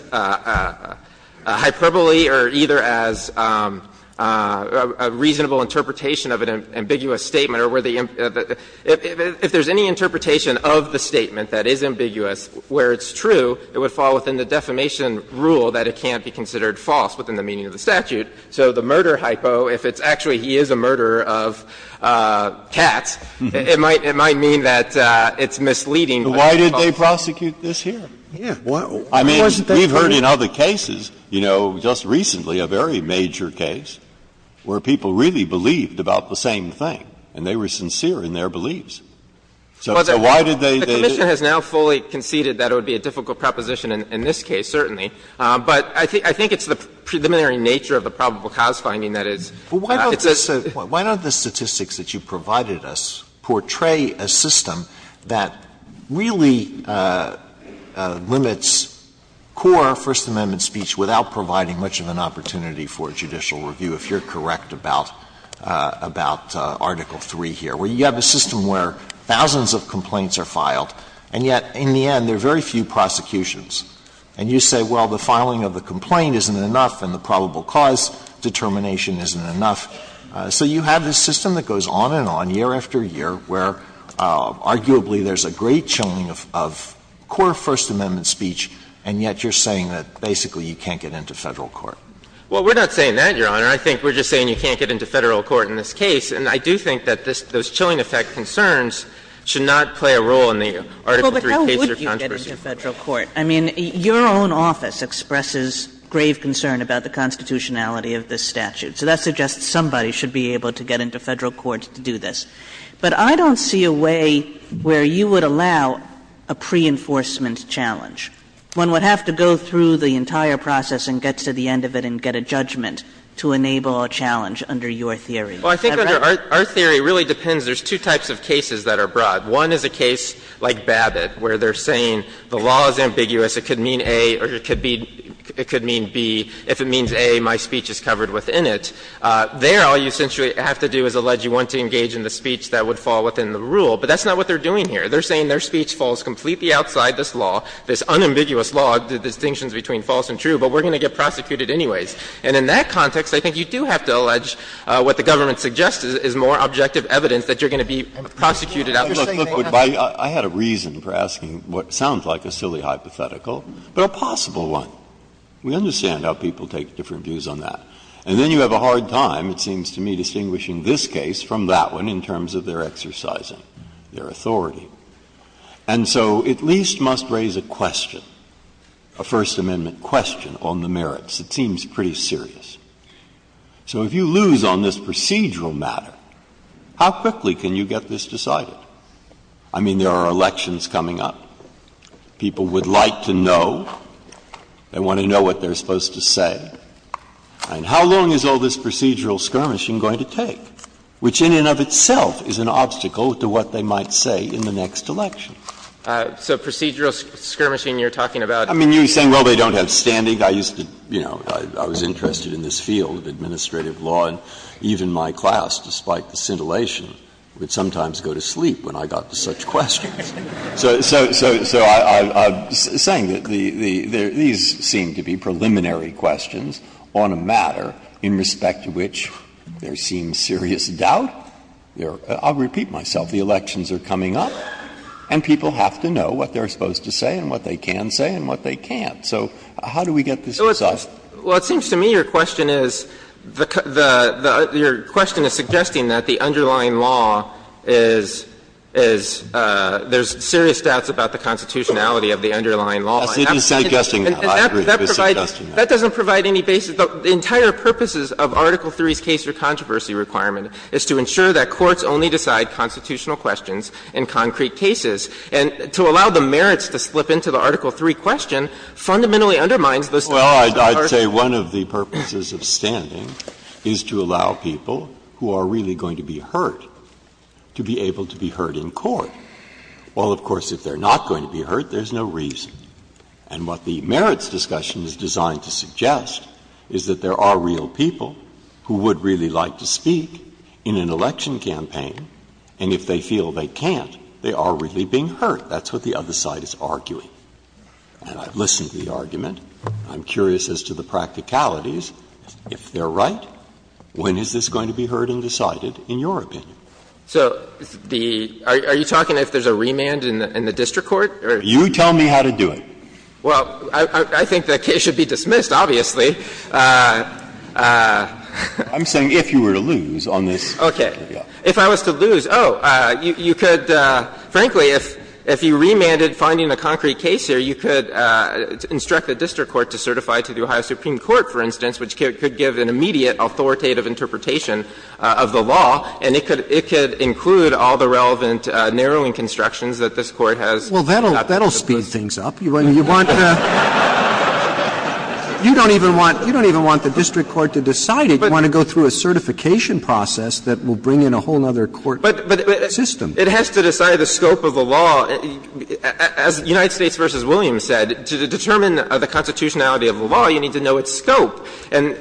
hyperbole or either as a reasonable interpretation of an ambiguous statement or where the – if there's any interpretation of the statement that is ambiguous where it's true, it would fall within the defamation rule that it can't be considered false within the meaning of the statute. So the murder hypo, if it's actually he is a murderer of cats, it might mean that it's misleading. Why did they prosecute this here? I mean, we've heard in other cases, you know, just recently a very major case where people really believed about the same thing and they were sincere in their beliefs. So why did they do it? The commission has now fully conceded that it would be a difficult proposition in this case, certainly. But I think it's the preliminary nature of the probable cause finding that is – But why don't the statistics that you provided us portray a system that really limits core First Amendment speech without providing much of an opportunity for judicial review? If you're correct about Article III here, where you have a system where thousands of complaints are filed and yet, in the end, there are very few prosecutions. And you say, well, the filing of the complaint isn't enough and the probable cause determination isn't enough. So you have this system that goes on and on, year after year, where arguably there's a great showing of core First Amendment speech, and yet you're saying that basically you can't get into Federal court. Well, we're not saying that, Your Honor. I think we're just saying you can't get into Federal court in this case. And I do think that this – those chilling effect concerns should not play a role in the Article III case or controversy. Well, but how would you get into Federal court? I mean, your own office expresses grave concern about the constitutionality of this statute. So that suggests somebody should be able to get into Federal court to do this. But I don't see a way where you would allow a pre-enforcement challenge. One would have to go through the entire process and get to the end of it and get a judgment to enable a challenge under your theory. Is that right? Well, I think under our theory, it really depends. There's two types of cases that are broad. One is a case like Babbitt, where they're saying the law is ambiguous. It could mean A or it could be – it could mean B. If it means A, my speech is covered within it. There, all you essentially have to do is allege you want to engage in the speech that would fall within the rule. But that's not what they're doing here. They're saying their speech falls completely outside this law, this unambiguous law, the distinctions between false and true, but we're going to get prosecuted anyways. And in that context, I think you do have to allege what the government suggests is more objective evidence that you're going to be prosecuted. Breyer, I had a reason for asking what sounds like a silly hypothetical, but a possible one. We understand how people take different views on that. And then you have a hard time, it seems to me, distinguishing this case from that one in terms of their exercising their authority. And so at least must raise a question, a First Amendment question, on the merits. It seems pretty serious. So if you lose on this procedural matter, how quickly can you get this decided? I mean, there are elections coming up. People would like to know. They want to know what they're supposed to say. And how long is all this procedural skirmishing going to take, which in and of itself is an obstacle to what they might say in the next election? So procedural skirmishing, you're talking about? I mean, you're saying, well, they don't have standing. I think I used to, you know, I was interested in this field of administrative law, and even my class, despite the scintillation, would sometimes go to sleep when I got to such questions. So I'm saying that these seem to be preliminary questions on a matter in respect to which there seems serious doubt. I'll repeat myself. The elections are coming up, and people have to know what they're supposed to say and what they can say and what they can't. So how do we get this decided? Well, it seems to me your question is, the question is suggesting that the underlying law is, is there's serious doubts about the constitutionality of the underlying law. And that doesn't provide any basis. The entire purposes of Article III's case-or-controversy requirement is to ensure that courts only decide constitutional questions in concrete cases and to allow the merits to slip into the Article III question fundamentally undermines the standards of the article. Breyer. Well, I'd say one of the purposes of standing is to allow people who are really going to be hurt to be able to be hurt in court. Well, of course, if they're not going to be hurt, there's no reason. And what the merits discussion is designed to suggest is that there are real people who would really like to speak in an election campaign, and if they feel they can't, they are really being hurt. That's what the other side is arguing. And I've listened to the argument. I'm curious as to the practicalities. If they're right, when is this going to be heard and decided in your opinion? So the – are you talking if there's a remand in the district court? You tell me how to do it. Well, I think the case should be dismissed, obviously. I'm saying if you were to lose on this. Okay. If I was to lose, oh, you could – frankly, if you remanded finding a concrete case here, you could instruct the district court to certify to the Ohio Supreme Court, for instance, which could give an immediate authoritative interpretation of the law, and it could include all the relevant narrowing constructions that this Court has. Well, that'll speed things up. You want to – you don't even want – you don't even want the district court to decide it. You want to go through a certification process that will bring in a whole other court system. But it has to decide the scope of the law. As United States v. Williams said, to determine the constitutionality of the law, you need to know its scope. And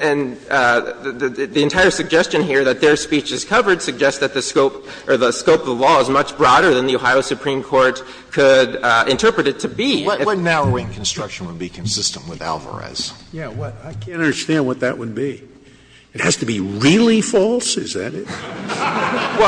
the entire suggestion here that their speech is covered suggests that the scope of the law is much broader than the Ohio Supreme Court could interpret it to be. What narrowing construction would be consistent with Alvarez? Yeah. I can't understand what that would be. It has to be really false? Is that it? Well,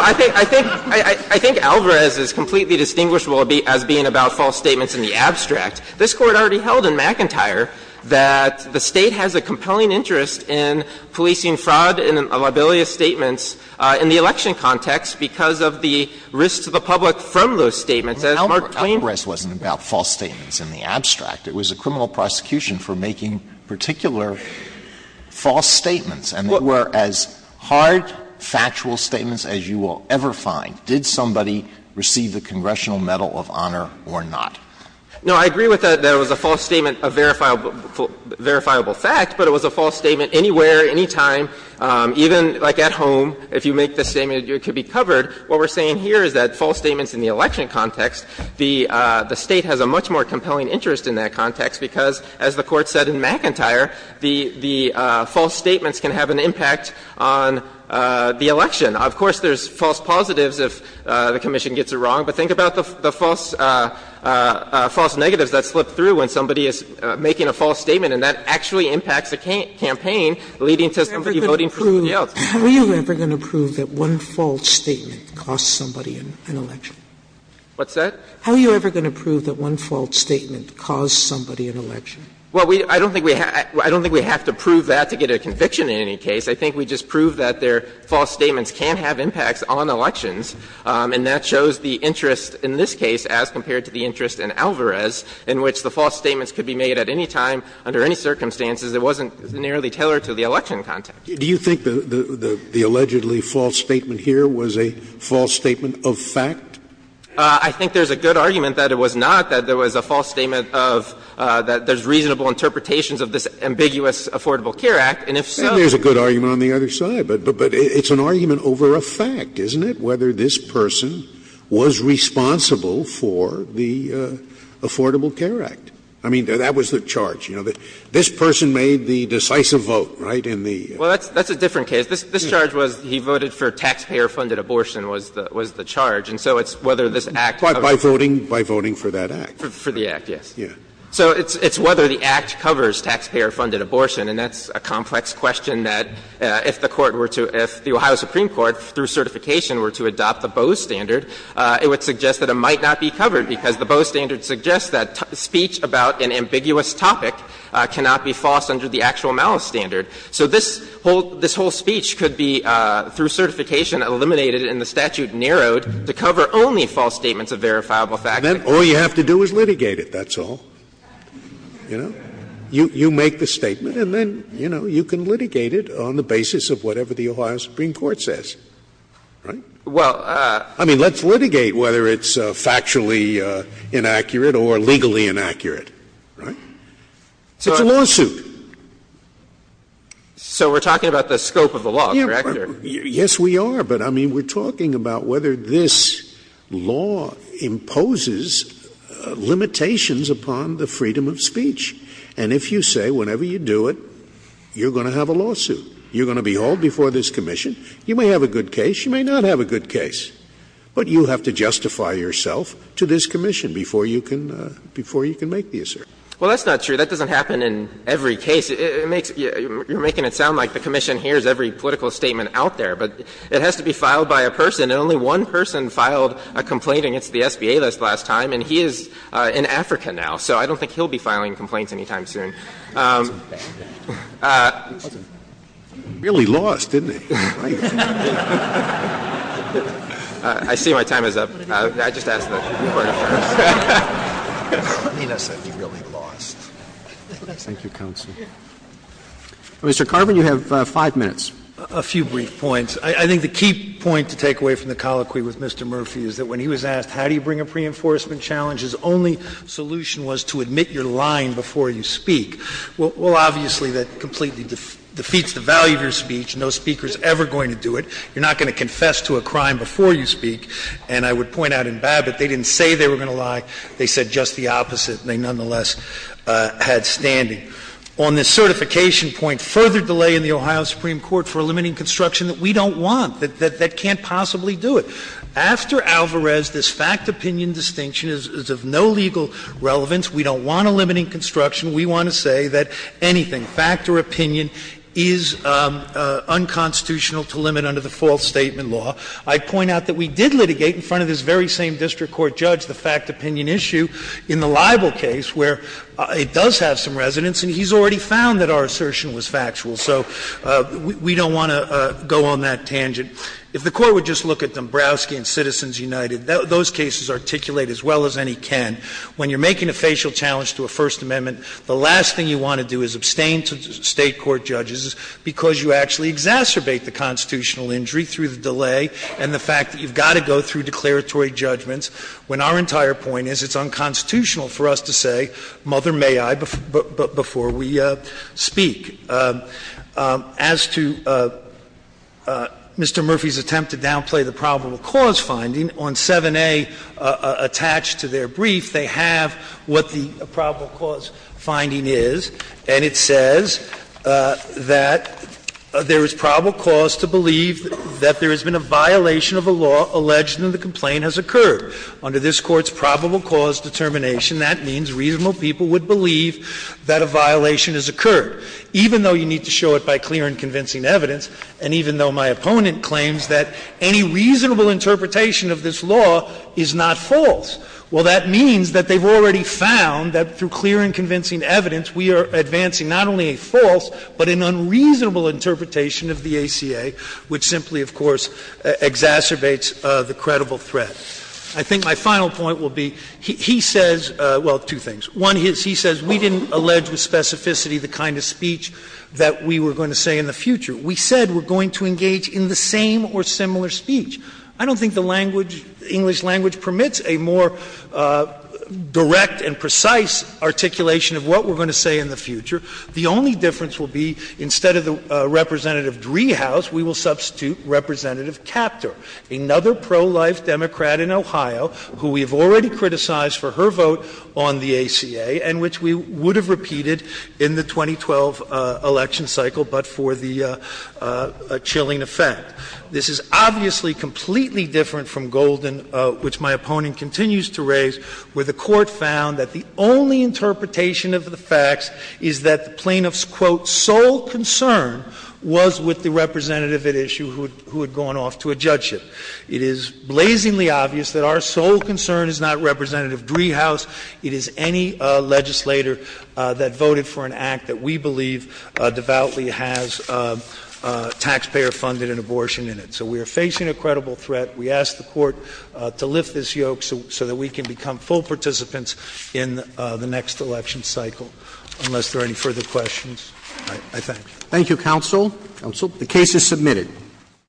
I think – I think Alvarez is completely distinguishable as being about false statements in the abstract. This Court already held in McIntyre that the State has a compelling interest in policing fraud and libelious statements in the election context because of the risk to the public from those statements. Alvarez wasn't about false statements in the abstract. It was a criminal prosecution for making particular false statements. And they were as hard, factual statements as you will ever find. Did somebody receive the Congressional Medal of Honor or not? No, I agree with that it was a false statement, a verifiable fact, but it was a false statement anywhere, anytime, even, like, at home. If you make the statement, it could be covered. What we're saying here is that false statements in the election context, the State has a much more compelling interest in that context because, as the Court said in McIntyre, the – the false statements can have an impact on the election. Of course, there's false positives if the commission gets it wrong, but think about the false – the false negatives that slip through when somebody is making a false statement, and that actually impacts the campaign, leading to somebody voting for somebody else. Sotomayor How are you ever going to prove that one false statement costs somebody in an election? What's that? How are you ever going to prove that one false statement costs somebody in an election? Well, we – I don't think we have to prove that to get a conviction in any case. I think we just prove that their false statements can have impacts on elections, and that shows the interest in this case as compared to the interest in Alvarez, in which the false statements could be made at any time, under any circumstances that wasn't narrowly tailored to the election context. Do you think the allegedly false statement here was a false statement of fact? I think there's a good argument that it was not, that there was a false statement of – that there's reasonable interpretations of this ambiguous Affordable Care Act, and if so – And there's a good argument on the other side, but it's an argument over a fact, isn't it, whether this person was responsible for the Affordable Care Act? I mean, that was the charge, you know, that this person made the decisive vote, right, in the – Well, that's a different case. This charge was he voted for taxpayer-funded abortion was the charge. And so it's whether this Act covers – By voting for that Act. For the Act, yes. So it's whether the Act covers taxpayer-funded abortion, and that's a complex question that if the Court were to – if the Ohio Supreme Court, through certification, were to adopt the Bose standard, it would suggest that it might not be covered, because the Bose standard suggests that speech about an ambiguous topic cannot be false under the actual malice standard. So this whole speech could be, through certification, eliminated and the statute narrowed to cover only false statements of verifiable fact. Then all you have to do is litigate it, that's all. You know? You make the statement, and then, you know, you can litigate it on the basis of whatever the Ohio Supreme Court says. Right? Well, I mean, let's litigate whether it's factually inaccurate or legally inaccurate. Right? It's a lawsuit. So we're talking about the scope of the law, correct, Your Honor? Yes, we are. But, I mean, we're talking about whether this law imposes limitations upon the freedom of speech. And if you say, whenever you do it, you're going to have a lawsuit, you're going to be held before this commission, you may have a good case, you may not have a good case, but you have to justify yourself to this commission before you can make the assertion. Well, that's not true. That doesn't happen in every case. You're making it sound like the commission hears every political statement out there. But it has to be filed by a person, and only one person filed a complaint against the SBA last time, and he is in Africa now. So I don't think he'll be filing complaints any time soon. Really lost, didn't he? I see my time is up. I just asked the Court of Firms. Nina said he really lost. Thank you, counsel. Mr. Carvin, you have 5 minutes. A few brief points. I think the key point to take away from the colloquy with Mr. Murphy is that when he was asked how do you bring a pre-enforcement challenge, his only solution was to admit you're lying before you speak. Well, obviously, that completely defeats the value of your speech. No speaker is ever going to do it. You're not going to confess to a crime before you speak. And I would point out in Babbitt, they didn't say they were going to lie. They said just the opposite, and they nonetheless had standing. On the certification point, further delay in the Ohio Supreme Court for limiting construction that we don't want, that can't possibly do it. After Alvarez, this fact-opinion distinction is of no legal relevance. We don't want a limiting construction. We want to say that anything, fact or opinion, is unconstitutional to limit under the false statement law. I'd point out that we did litigate in front of this very same district court judge the fact-opinion issue in the libel case, where it does have some resonance, and he's already found that our assertion was factual. So we don't want to go on that tangent. If the Court would just look at Dombrowski and Citizens United, those cases articulate as well as any can. When you're making a facial challenge to a First Amendment, the last thing you want to do is abstain to State court judges because you actually exacerbate the constitutional injury through the delay and the fact that you've got to go through declaratory judgments. When our entire point is it's unconstitutional for us to say, Mother, may I, before we speak. As to Mr. Murphy's attempt to downplay the probable cause finding, on 7a attached to their brief, they have what the probable cause finding is, and it says that there is probable cause to believe that there has been a violation of a law alleged that the complaint has occurred. Under this Court's probable cause determination, that means reasonable people would believe that a violation has occurred, even though you need to show it by clear and convincing evidence, and even though my opponent claims that any reasonable interpretation of this law is not false. Well, that means that they've already found that through clear and convincing evidence, we are advancing not only a false but an unreasonable interpretation of the ACA, which simply, of course, exacerbates the credible threat. I think my final point will be, he says, well, two things. One is he says we didn't allege with specificity the kind of speech that we were going to say in the future. We said we're going to engage in the same or similar speech. I don't think the language, English language, permits a more direct and precise articulation of what we're going to say in the future. The only difference will be, instead of Representative Driehaus, we will substitute Representative Capter, another pro-life Democrat in Ohio who we have already criticized for her vote on the ACA and which we would have repeated in the 2012 election cycle, but for the chilling effect. This is obviously completely different from Golden, which my opponent continues to raise, where the Court found that the only interpretation of the facts is that the plaintiff's, quote, sole concern was with the representative at issue who had gone off to a judgeship. It is blazingly obvious that our sole concern is not Representative Driehaus. It is any legislator that voted for an act that we believe devoutly has taxpayer funding and abortion in it. So we are facing a credible threat. We ask the Court to lift this yoke so that we can become full participants in the next election cycle. Unless there are any further questions, I thank you. Roberts. Thank you, counsel. Counsel. The case is submitted.